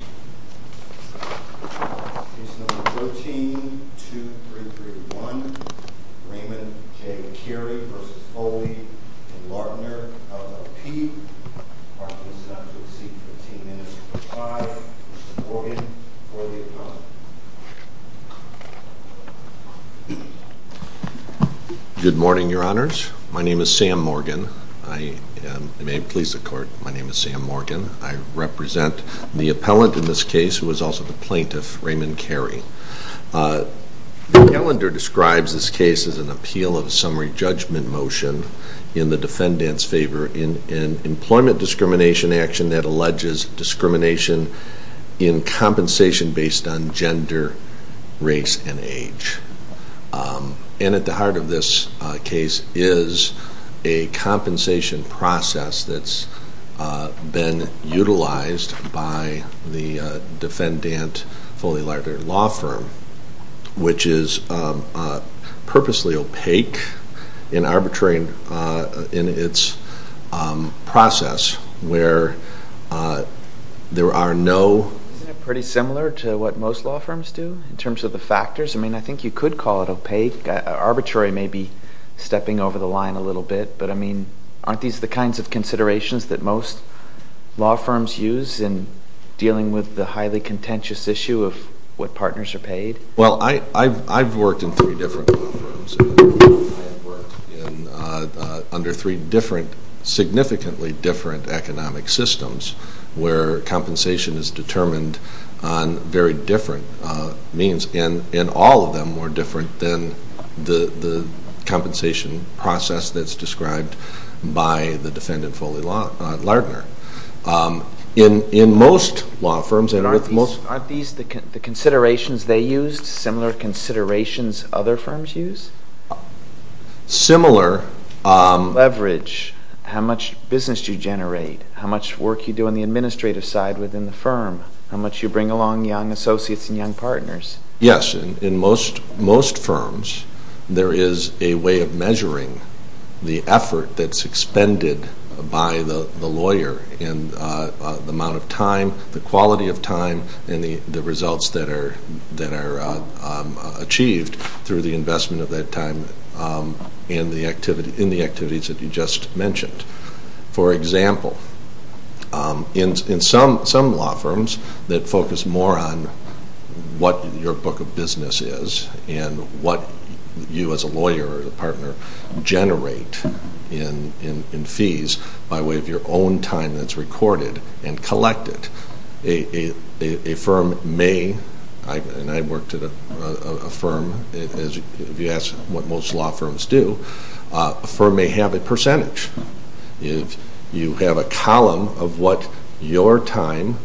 up to the seat for 15 minutes for five. Mr. Morgan, for the appellant. Good morning, your honors. My name is Sam Morgan. I am, and may it please the court, my name is Sam Morgan. I represent the appellant in this case who is also the plaintiff, Raymond Carey. The calendar describes this case as an appeal of a summary judgment motion in the defendant's favor in an employment discrimination action that alleges discrimination in compensation based on gender, race, and age. And at the heart of this case is a compensation process that's been utilized by the defendant, Foley and Lardner Law Firm, which is purposely opaque in arbitration in its process where there are no... Isn't it pretty similar to what most law firms do in terms of the factors? I mean, I think you could call it opaque. Arbitrary may be stepping over the line a little bit, but I most law firms use in dealing with the highly contentious issue of what partners are paid? Well, I've worked in three different law firms. I've worked under three different, significantly different economic systems where compensation is determined on very different means, and all of them were different than the compensation process that's described by the defendant, Foley and Lardner. In most law firms... Aren't these the considerations they used, similar considerations other firms use? Similar... Leverage. How much business do you generate? How much work do you do on the administrative side within the firm? How much do you bring along young associates and young partners? Yes. In most firms, there is a way of measuring the effort that's expended by the lawyer in the amount of time, the quality of time, and the results that are achieved through the investment of that time in the activities that you just mentioned. For example, in some law firms that focus more on what your book of business is and what you as a lawyer or a partner generate in fees by way of your own time that's recorded and collected. A firm may, and I've worked at a firm, if you ask what most law firms do, a firm may have a percentage. You have a column of what your time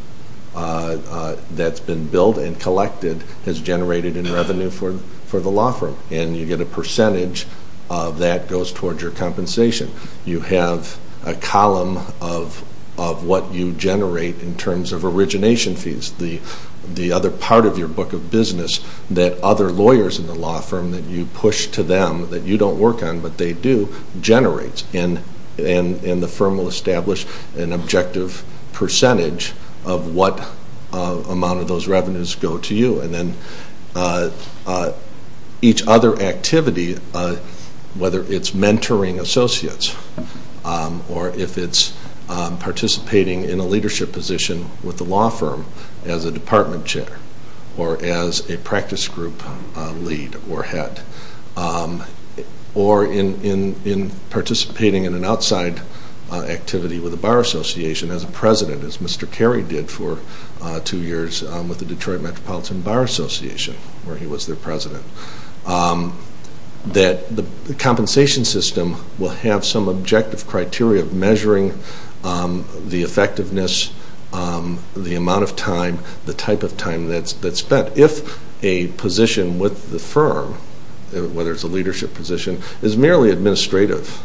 that's been billed and collected has generated in revenue for the law firm, and you get a percentage of that goes towards your compensation. You have a column of what you generate in terms of origination fees, the other part of your book of business that other lawyers in the law firm that you push to them that you don't work on but they do generates, and the firm will establish an objective percentage of what amount of those revenues go to you. And then each other activity, whether it's mentoring associates or if it's participating in a leadership position with or in participating in an outside activity with a bar association as a president, as Mr. Carey did for two years with the Detroit Metropolitan Bar Association where he was their president, that the compensation system will have some objective criteria of measuring the effectiveness, the amount of time, the type of time that's spent. If a position with the firm, whether it's a leadership position, is merely administrative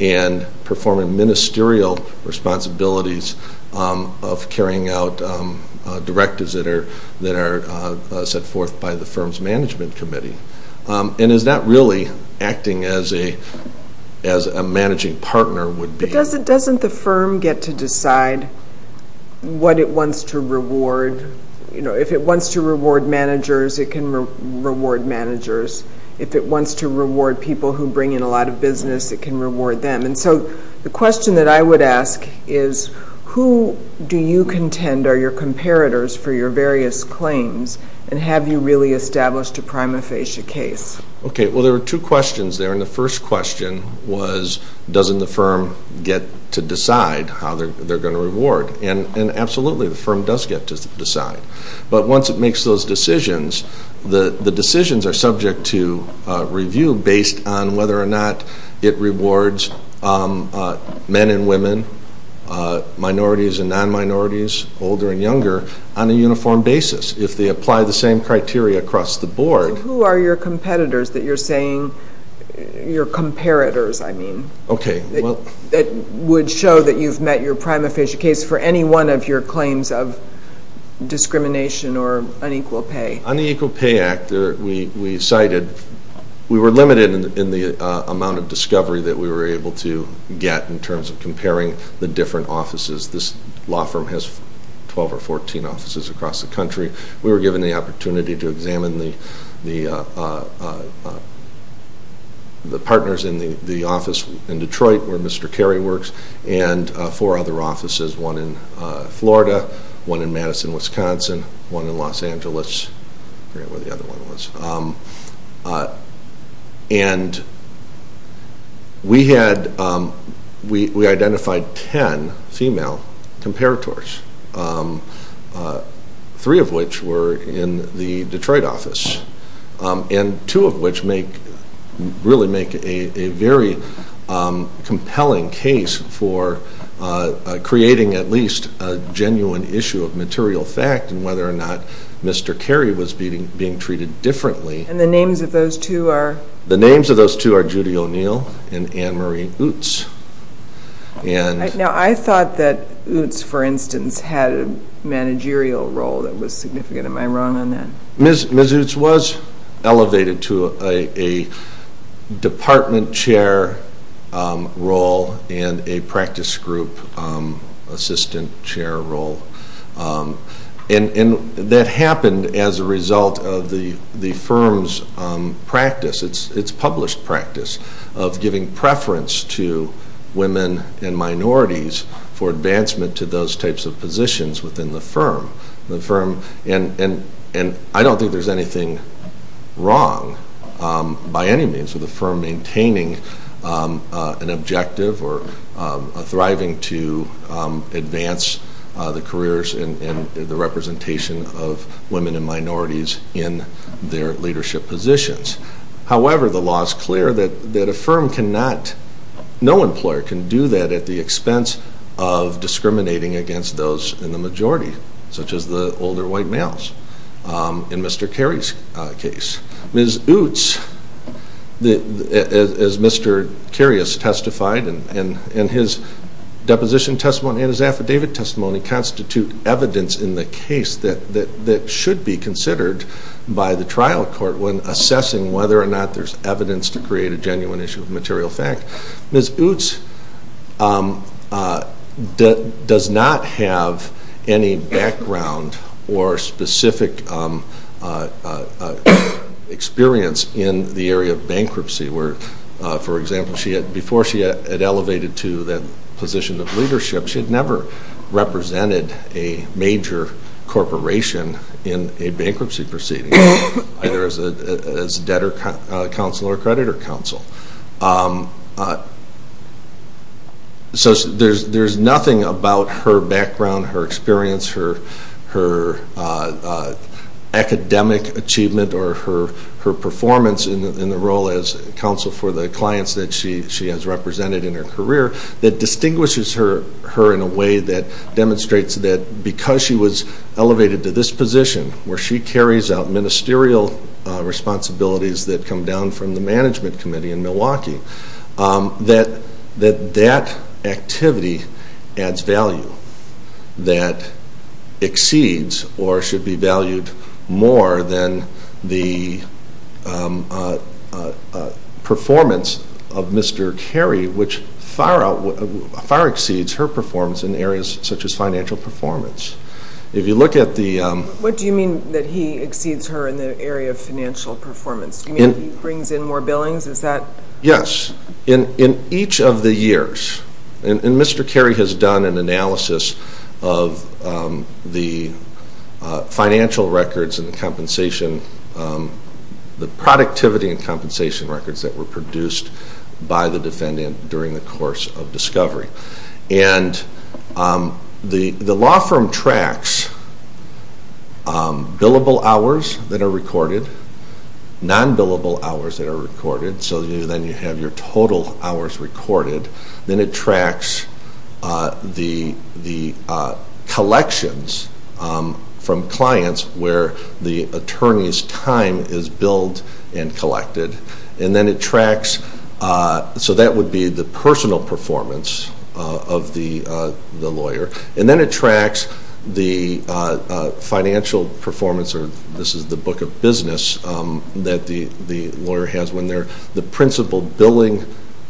and performing ministerial responsibilities of carrying out directives that are set forth by the firm's management committee and is not really acting as a managing partner would be. But doesn't the firm get to decide how they're going to reward? And absolutely, the firm does get to decide. But once it makes those decisions, the decisions are subject to review based on whether or not it rewards men and women, minorities and non-minorities, older and younger, on a uniform basis. If they apply the same criteria across the board. Who are your competitors that you're saying, your comparators, I mean, that would show that you've met your prima facie case for any one of your claims of equal pay? On the Equal Pay Act, we cited, we were limited in the amount of discovery that we were able to get in terms of comparing the different offices. This law firm has 12 or 14 offices across the country. We were given the opportunity to examine the partners in the office in Detroit where Mr. Carey works and four other offices, one in Florida, one in Madison, Wisconsin, one in Los Angeles. And we had, we identified 10 female comparators. Three of which were in the Detroit office. And two of which make, really make a very compelling case for creating at least a genuine issue of material fact and whether or not Mr. Carey was being treated differently. And the names of those two are? The names of those two are Judy O'Neill and Ann Marie Utz. Now I thought that Utz, for instance, had a managerial role that was significant. Am I wrong on that? Ms. Utz was elevated to a department chair role and a practice group assistant chair role. And that happened as a result of the firm's practice, its published practice, of giving preference to women and minorities for advancement to those types of positions within the firm. The I don't think there's anything wrong by any means with the firm maintaining an objective or thriving to advance the careers and the representation of women and minorities in their leadership positions. However, the law is clear that a firm cannot, no employer can do that at the expense of in Mr. Carey's case. Ms. Utz, as Mr. Carey has testified in his deposition testimony and his affidavit testimony constitute evidence in the case that should be considered by the trial court when assessing whether or not there's evidence to create a genuine issue of material fact. Ms. Utz does not have any background or specific experience in the area of bankruptcy where, for example, she had before she had elevated to that position of leadership, she had never represented a major corporation in a bankruptcy proceeding either as debtor counsel or creditor counsel. So there's nothing about her background, her experience, her academic achievement or her performance in the role as counsel for the clients that she has represented in her career that distinguishes her in a way that because she was elevated to this position where she carries out ministerial responsibilities that come down from the management committee in Milwaukee, that that activity adds value that exceeds or should be valued more than the performance of Mr. Carey which far exceeds her performance in areas such as financial performance. If you look at the... What do you mean that he exceeds her in the area of financial performance? Do you mean he brings in more billings? Is that... Yes. In each of the years, and Mr. Carey has done an analysis of the financial records and the compensation, the productivity and compensation records that were produced by the defendant during the law firm tracks billable hours that are recorded, non-billable hours that are recorded, so then you have your total hours recorded. Then it tracks the collections from clients where the attorney's time is billed and it tracks the financial performance, or this is the book of business, that the lawyer has when they're the principal billing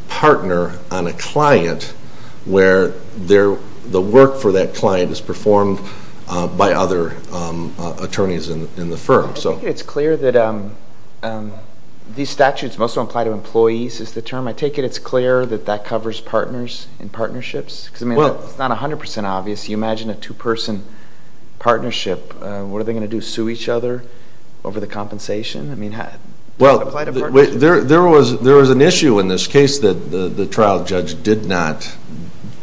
partner on a client where the work for that client is performed by other attorneys in the firm. I think it's clear that these statutes mostly apply to employees is the term. I take it it's clear that that covers partners and partnerships? Because it's not 100% obvious. You imagine a two-person partnership. What are they going to do, sue each other over the compensation? I mean, does it apply to partnerships? There was an issue in this case that the trial judge did not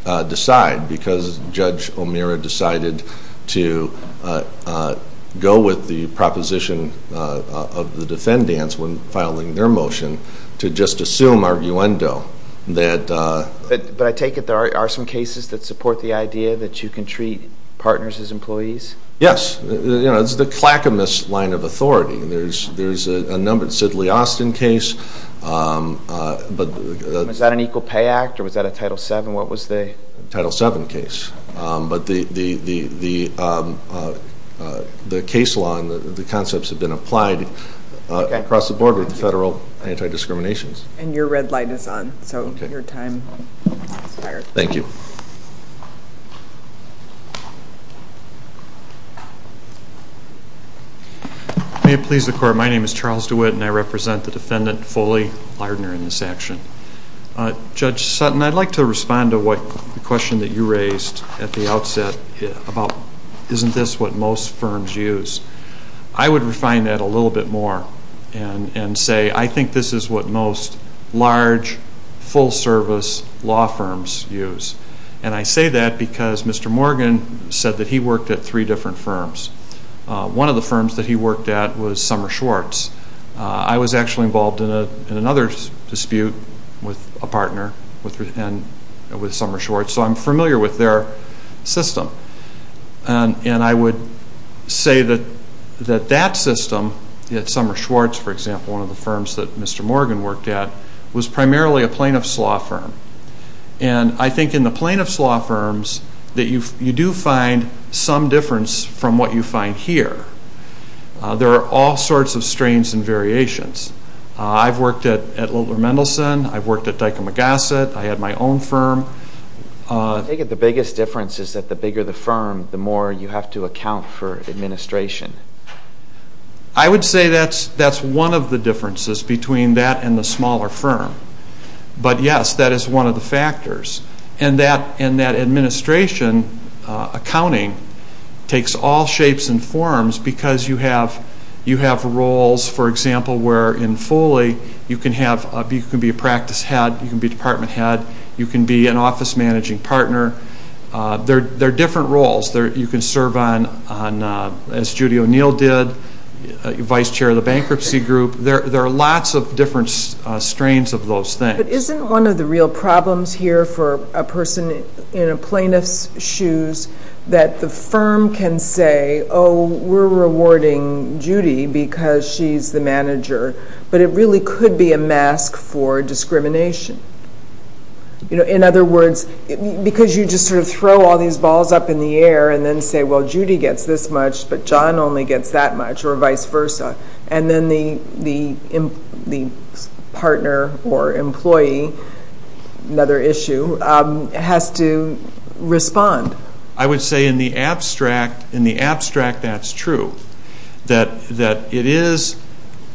decide because Judge O'Meara decided to go with the proposition of the defendants when filing their motion to just assume arguendo. But I take it there are some cases that support the idea that you can treat partners as employees? Yes. It's the clackamous line of authority. There's a numbered Sidley Austin case. Was that an Equal Pay Act or was that a Title VII? What was the... And your red light is on. So your time has expired. Thank you. May it please the Court, my name is Charles DeWitt and I represent the defendant Foley Lardner in this action. Judge Sutton, I'd like to respond to the question that you raised at the outset about isn't this what most firms use? I would refine that a little bit more and say I think this is what most large, full-service law firms use. And I say that because Mr. Morgan said that he worked at three different firms. One of the firms that he worked at was Summer Schwartz. I was actually involved in another dispute with a partner with Summer Schwartz, so I'm familiar with their system. And I would say that that system at Summer Schwartz, for example, one of the firms that Mr. Morgan worked at, was primarily a plaintiff's law firm. And I think in the plaintiff's law firms that you do find some difference from what you find here. There are all sorts of strains and variations. I've worked at Littler Mendelson, I've worked at Dyke & McGosset, I had my own firm. I think the biggest difference is that the bigger the firm, the more you have to account for administration. I would say that's one of the differences between that and the smaller firm. But yes, that is one of the factors. And that administration accounting takes all shapes and forms because you have roles, for example, where in Foley you can be a practice head, you can be a department head, you can be an office managing partner. They're different roles. You can serve on, as Judy O'Neill did, vice chair of the bankruptcy group. There are lots of different strains of those things. But isn't one of the real problems here for a person in a plaintiff's shoes that the firm can say, oh, we're rewarding Judy because she's the manager, but it really could be a mask for discrimination. In other words, because you just sort of throw all these balls up in the air and then say, well, Judy gets this much, but John only gets that much, or vice versa. And then the partner or employee, another issue, has to respond. I would say in the abstract, that's true. That it is,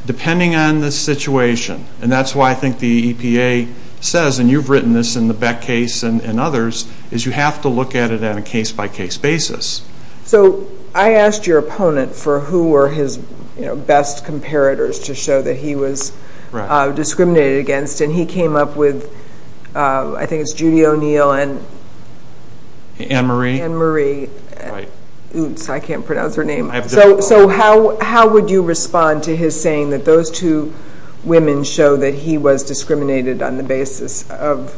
depending on the situation, and that's why I think the EPA says, and you've written this in the Beck case and others, is you have to look at it on a case-by-case basis. So I asked your opponent for who were his best comparators to show that he was discriminated against, and he came up with, I think it's Judy O'Neill and Ann Marie. I can't pronounce her name. So how would you respond to his saying that those two women show that he was discriminated on the basis of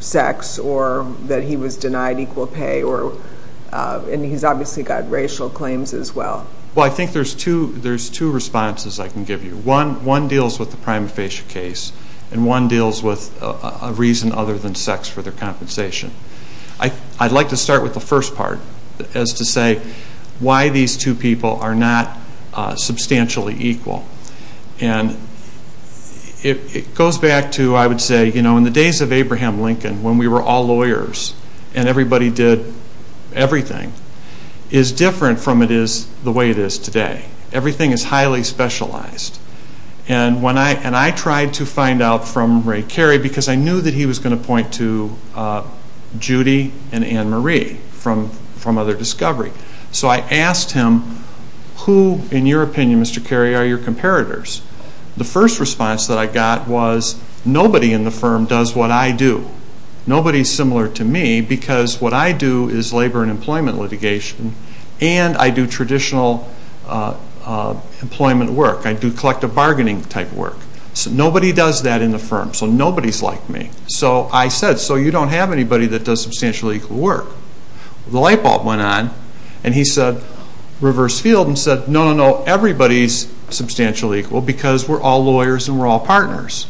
sex or that he was denied equal pay, and he's obviously got racial claims as well? Well, I think there's two responses I can give you. One deals with the prima facie case, and one deals with a reason other than sex for their compensation. I'd like to start with the first part, as to say why these two people are not substantially equal. And it goes back to, I would say, you know, in the days of Abraham Lincoln, when we were all lawyers and everybody did everything, is different from the way it is today. Everything is highly specialized. And I tried to find out from Ray Carey, because I knew that he was going to point to Judy and Ann Marie from other discovery. So I asked him, who, in your opinion, Mr. Carey, are your comparators? The first response that I got was, nobody in the firm does what I do. Nobody is similar to me, because what I do is labor and employment litigation, and I do traditional employment work. I do collective bargaining type work. Nobody does that in the firm, so nobody is like me. So I said, so you don't have anybody that does substantially equal work. The light bulb went on, and he said, reverse field, and said, no, no, no, everybody is substantially equal, because we're all lawyers and we're all partners.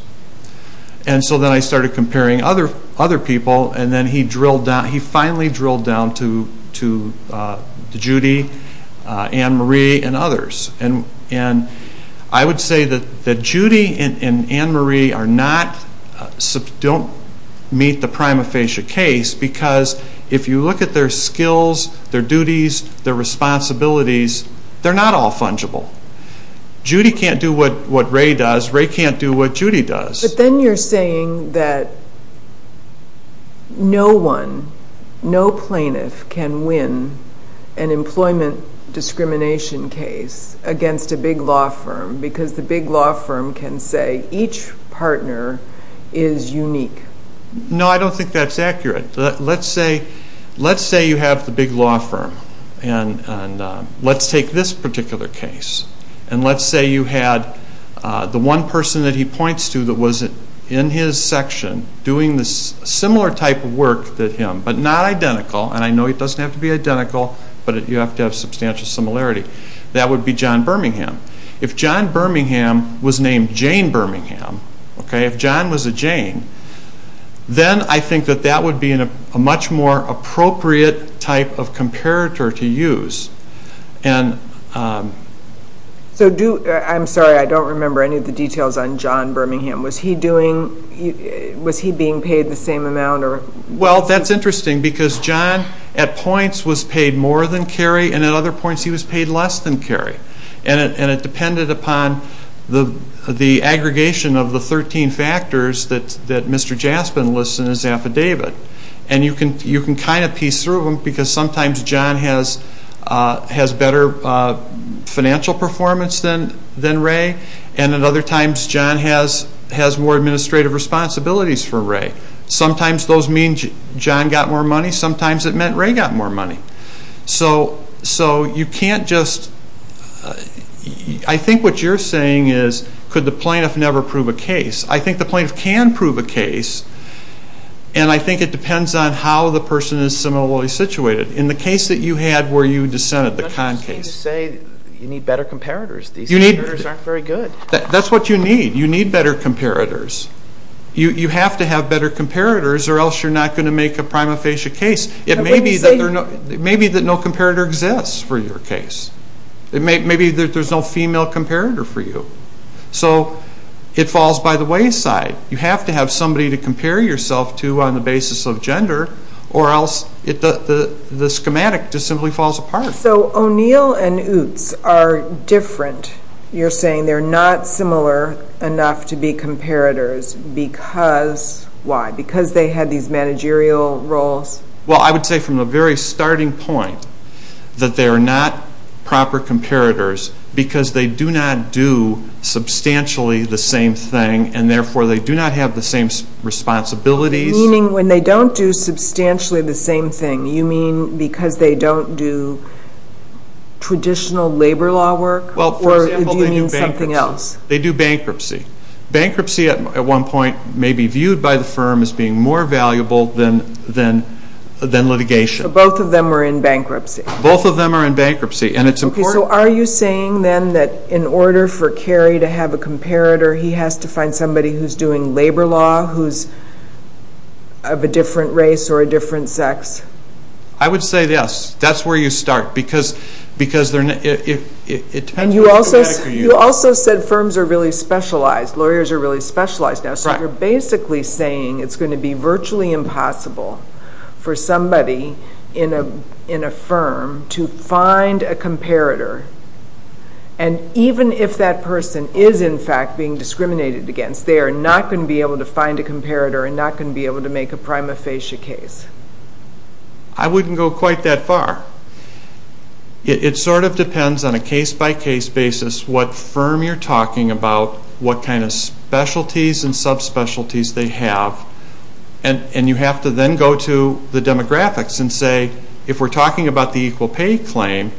And so then I started comparing other people, and then he finally drilled down to Judy, Ann Marie, and others. And I would say that Judy and Ann Marie don't meet the prima facie case, because if you look at their skills, their duties, their responsibilities, they're not all fungible. Judy can't do what Ray does. Ray can't do what Judy does. But then you're saying that no one, no plaintiff can win an employment discrimination case against a big law firm, because the big law firm can say each partner is unique. No, I don't think that's accurate. Let's say you have the big law firm, and let's take this particular case, and let's say you had the one person that he points to that was in his section, doing this similar type of work to him, but not identical, and I know it doesn't have to be identical, but you have to have substantial similarity. That would be John Birmingham. If John Birmingham was named Jane Birmingham, if John was a Jane, then I think that would be a much more appropriate type of comparator to use. I'm sorry, I don't remember any of the details on John Birmingham. Was he being paid the same amount? Well, that's interesting, because John, at points, was paid more than Kerry, and at other points he was paid less than Kerry. And it depended upon the aggregation of the 13 factors that Mr. Jaspin lists in his affidavit. And you can kind of piece through them, because sometimes John has better financial performance than Ray, and at other times John has more administrative responsibilities for Ray. Sometimes those mean John got more money. Sometimes it meant Ray got more money. So you can't just – I think what you're saying is, could the plaintiff never prove a case? I think the plaintiff can prove a case, and I think it depends on how the person is similarly situated. In the case that you had where you dissented, the Kahn case. You're not just saying you need better comparators. These comparators aren't very good. That's what you need. You need better comparators. You have to have better comparators, or else you're not going to make a prima facie case. It may be that no comparator exists for your case. It may be that there's no female comparator for you. So it falls by the wayside. You have to have somebody to compare yourself to on the basis of gender, or else the schematic just simply falls apart. So O'Neill and Utz are different. You're saying they're not similar enough to be comparators because why? Because they had these managerial roles? Well, I would say from the very starting point that they are not proper comparators because they do not do substantially the same thing, and therefore they do not have the same responsibilities. Meaning when they don't do substantially the same thing, you mean because they don't do traditional labor law work, or do you mean something else? They do bankruptcy. Bankruptcy at one point may be viewed by the firm as being more valuable than litigation. So both of them are in bankruptcy. Both of them are in bankruptcy, and it's important. Okay, so are you saying then that in order for Cary to have a comparator, he has to find somebody who's doing labor law, who's of a different race or a different sex? I would say yes. That's where you start because it depends on who you're talking to. And you also said firms are really specialized. Lawyers are really specialized now. So you're basically saying it's going to be virtually impossible for somebody in a firm to find a comparator, and even if that person is in fact being discriminated against, they are not going to be able to find a comparator and not going to be able to make a prima facie case. I wouldn't go quite that far. It sort of depends on a case-by-case basis what firm you're talking about, what kind of specialties and subspecialties they have, and you have to then go to the demographics and say, if we're talking about the equal pay claim,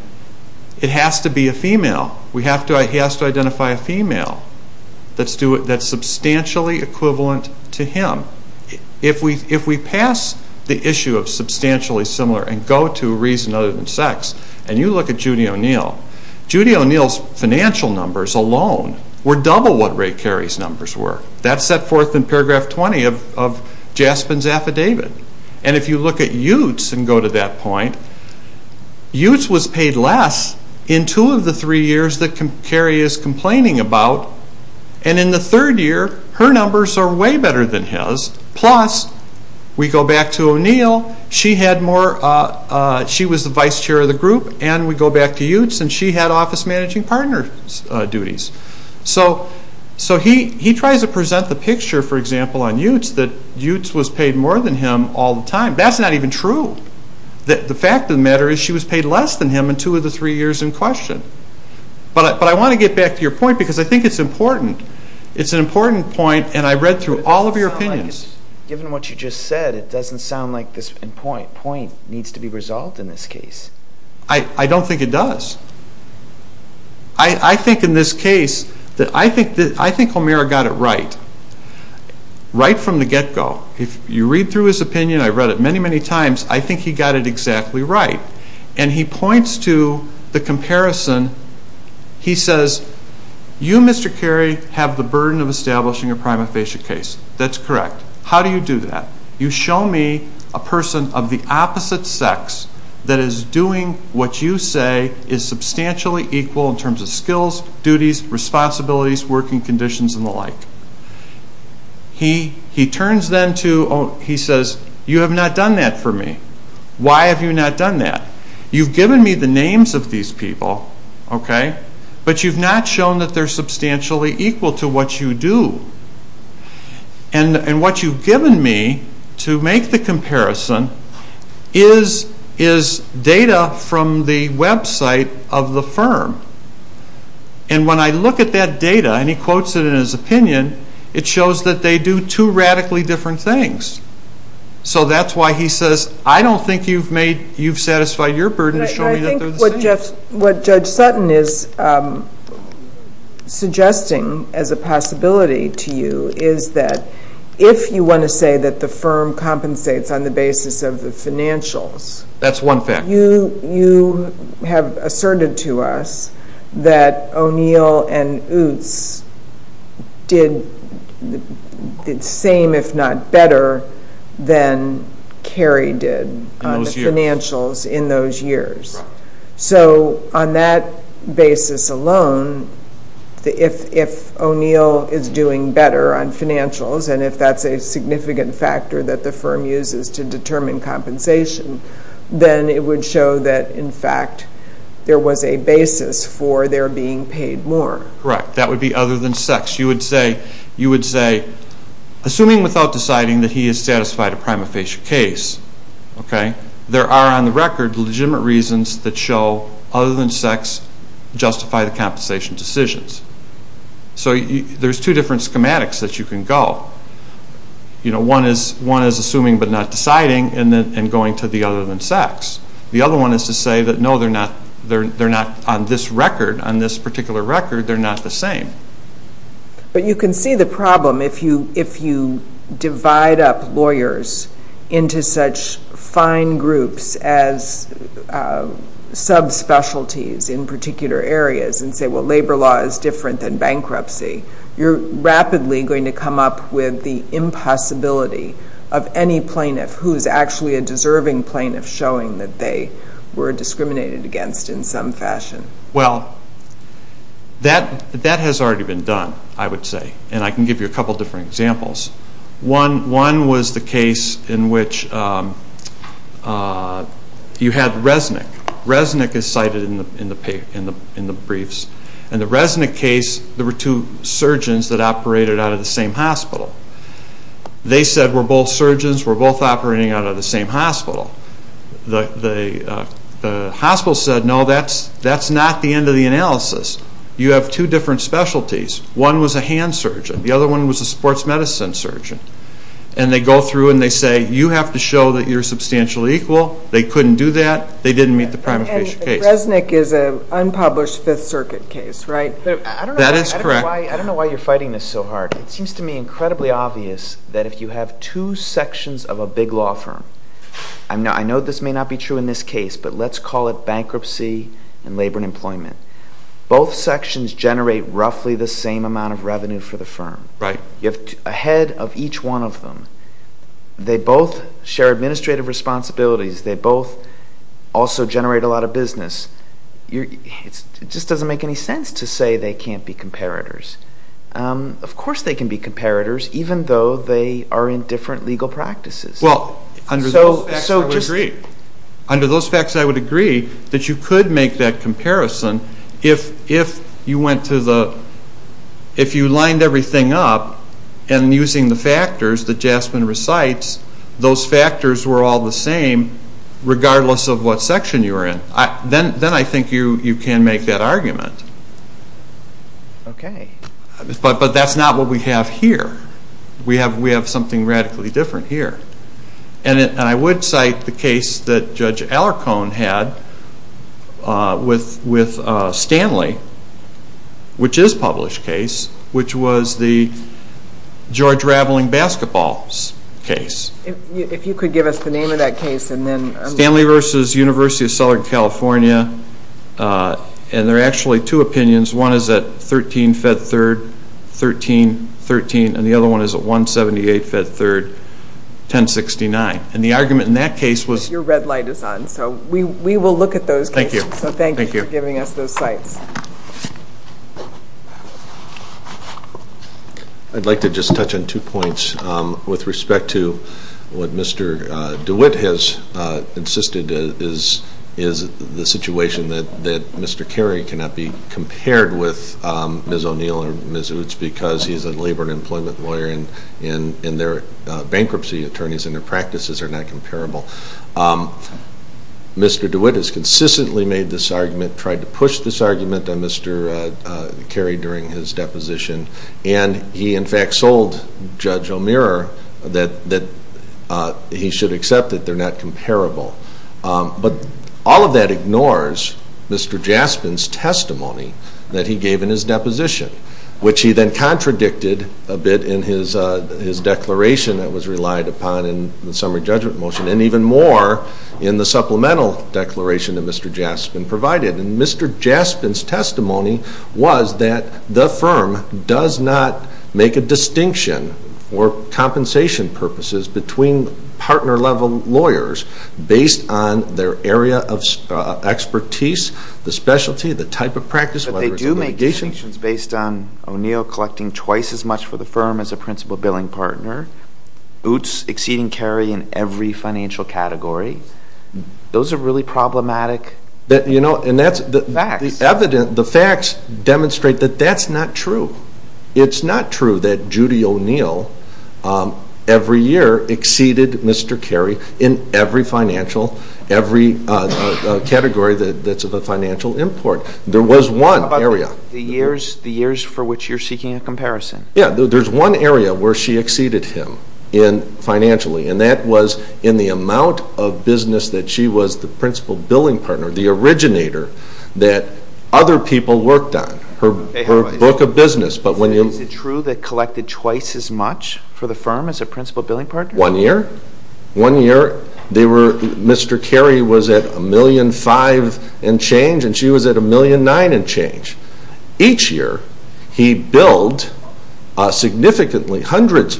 it has to be a female. He has to identify a female that's substantially equivalent to him. If we pass the issue of substantially similar and go to reason other than sex, and you look at Judy O'Neill, Judy O'Neill's financial numbers alone were double what Ray Cary's numbers were. That's set forth in paragraph 20 of Jaspin's affidavit. And if you look at Utes and go to that point, Utes was paid less in two of the three years that Cary is complaining about, and in the third year her numbers are way better than his, plus we go back to O'Neill, she was the vice chair of the group, and we go back to Utes and she had office managing partner duties. So he tries to present the picture, for example, on Utes, that Utes was paid more than him all the time. That's not even true. The fact of the matter is she was paid less than him in two of the three years in question. But I want to get back to your point because I think it's important. It's an important point, and I read through all of your opinions. Given what you just said, it doesn't sound like this point needs to be resolved in this case. I don't think it does. I think in this case, I think O'Meara got it right, right from the get-go. If you read through his opinion, I've read it many, many times, I think he got it exactly right. And he points to the comparison. He says, you, Mr. Cary, have the burden of establishing a prima facie case. That's correct. How do you do that? You show me a person of the opposite sex that is doing what you say is substantially equal in terms of skills, duties, responsibilities, working conditions, and the like. He says, you have not done that for me. Why have you not done that? You've given me the names of these people, but you've not shown that they're substantially equal to what you do. And what you've given me to make the comparison is data from the website of the firm. And when I look at that data, and he quotes it in his opinion, it shows that they do two radically different things. So that's why he says, I don't think you've satisfied your burden to show me that they're the same. What Judge Sutton is suggesting as a possibility to you is that if you want to say that the firm compensates on the basis of the financials. That's one fact. You have asserted to us that O'Neill and Oots did the same, if not better, than Cary did on the financials in those years. So on that basis alone, if O'Neill is doing better on financials, and if that's a significant factor that the firm uses to determine compensation, then it would show that, in fact, there was a basis for their being paid more. Correct. That would be other than sex. You would say, assuming without deciding that he has satisfied a prima facie case, there are on the record legitimate reasons that show other than sex justify the compensation decisions. So there's two different schematics that you can go. One is assuming but not deciding and going to the other than sex. The other one is to say that no, they're not on this record, on this particular record, they're not the same. But you can see the problem if you divide up lawyers into such fine groups as subspecialties in particular areas and say, well, labor law is different than bankruptcy, you're rapidly going to come up with the impossibility of any plaintiff who's actually a deserving plaintiff showing that they were discriminated against in some fashion. Well, that has already been done, I would say. And I can give you a couple different examples. One was the case in which you had Resnick. Resnick is cited in the briefs. In the Resnick case, there were two surgeons that operated out of the same hospital. They said, we're both surgeons, we're both operating out of the same hospital. The hospital said, no, that's not the end of the analysis. You have two different specialties. One was a hand surgeon. The other one was a sports medicine surgeon. And they go through and they say, you have to show that you're substantially equal. They couldn't do that. They didn't meet the prima facie case. And Resnick is an unpublished Fifth Circuit case, right? That is correct. I don't know why you're fighting this so hard. It seems to me incredibly obvious that if you have two sections of a big law firm. I know this may not be true in this case, but let's call it bankruptcy and labor and employment. Both sections generate roughly the same amount of revenue for the firm. You have a head of each one of them. They both share administrative responsibilities. They both also generate a lot of business. It just doesn't make any sense to say they can't be comparators. Of course they can be comparators, even though they are in different legal practices. Well, under those facts, I would agree. Under those facts, I would agree that you could make that comparison. If you lined everything up and using the factors that Jasmine recites, those factors were all the same regardless of what section you were in. Then I think you can make that argument. Okay. But that's not what we have here. We have something radically different here. I would cite the case that Judge Alarcon had with Stanley, which is a published case, which was the George Raveling basketball case. If you could give us the name of that case. Stanley v. University of Southern California. There are actually two opinions. One is at 13-Fed-3rd, 13-13, and the other one is at 178-Fed-3rd, 1069. Your red light is on, so we will look at those cases. Thank you. Thank you for giving us those sites. I'd like to just touch on two points with respect to what Mr. DeWitt has insisted is the situation that Mr. Carey cannot be compared with Ms. O'Neill and Ms. Utz because he's a labor and employment lawyer, and their bankruptcy attorneys and their practices are not comparable. Mr. DeWitt has consistently made this argument, tried to push this argument on Mr. Carey during his deposition, and he in fact sold Judge O'Meara that he should accept that they're not comparable. But all of that ignores Mr. Jaspin's testimony that he gave in his deposition, which he then contradicted a bit in his declaration that was relied upon in the summary judgment motion and even more in the supplemental declaration that Mr. Jaspin provided. And Mr. Jaspin's testimony was that the firm does not make a distinction or compensation purposes between partner-level lawyers based on their area of expertise, the specialty, the type of practice, whether it's a litigation. But they do make distinctions based on O'Neill collecting twice as much for the firm as a principal billing partner, Utz exceeding Carey in every financial category. Those are really problematic. And the facts demonstrate that that's not true. It's not true that Judy O'Neill every year exceeded Mr. Carey in every financial, every category that's of a financial import. There was one area. How about the years for which you're seeking a comparison? Yeah, there's one area where she exceeded him financially, and that was in the amount of business that she was the principal billing partner, the originator that other people worked on, her book of business. Is it true they collected twice as much for the firm as a principal billing partner? One year. One year, Mr. Carey was at $1.5 million and change, and she was at $1.9 million and change. Each year, he billed significantly hundreds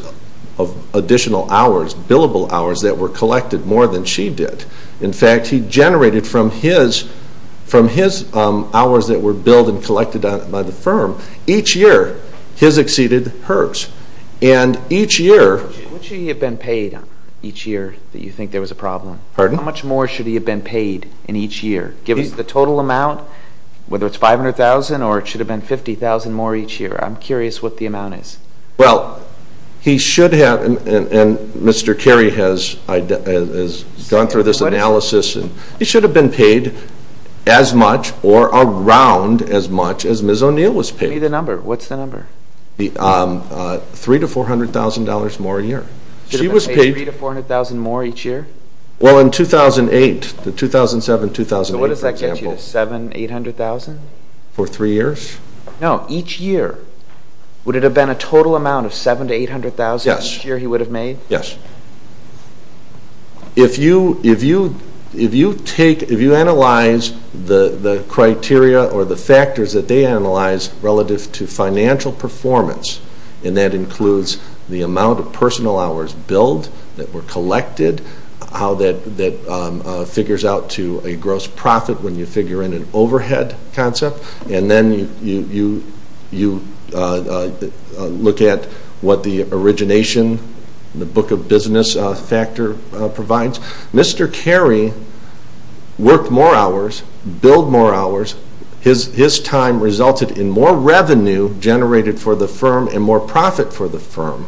of additional hours, billable hours, that were collected more than she did. In fact, he generated from his hours that were billed and collected by the firm, each year his exceeded hers. And each year... What should he have been paid each year that you think there was a problem? Pardon? How much more should he have been paid in each year? Give us the total amount, whether it's $500,000 or it should have been $50,000 more each year. I'm curious what the amount is. Well, he should have, and Mr. Carey has gone through this analysis. He should have been paid as much or around as much as Ms. O'Neill was paid. Give me the number. What's the number? $300,000 to $400,000 more a year. She was paid... Should have been paid $300,000 to $400,000 more each year? Well, in 2008, the 2007-2008, for example... So what does that get you, $700,000 to $800,000? For three years? No, each year. Would it have been a total amount of $700,000 to $800,000 each year he would have made? Yes. If you analyze the criteria or the factors that they analyze relative to financial performance, and that includes the amount of personal hours billed that were collected, how that figures out to a gross profit when you figure in an overhead concept, and then you look at what the origination, the book of business factor provides. Mr. Carey worked more hours, billed more hours. His time resulted in more revenue generated for the firm and more profit for the firm.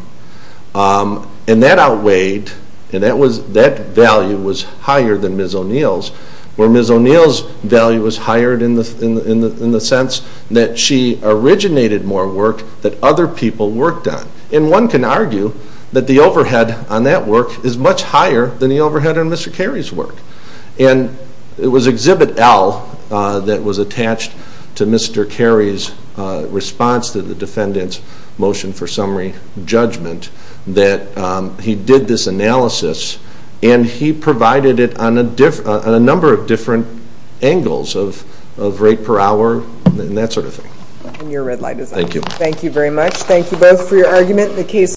And that outweighed, and that value was higher than Ms. O'Neill's, where Ms. O'Neill's value was higher in the sense that she originated more work that other people worked on. And one can argue that the overhead on that work is much higher than the overhead on Mr. Carey's work. And it was Exhibit L that was attached to Mr. Carey's response to the defendant's motion for summary judgment that he did this analysis and he provided it on a number of different angles of rate per hour and that sort of thing. And your red light is on. Thank you. Thank you very much. Thank you both for your argument.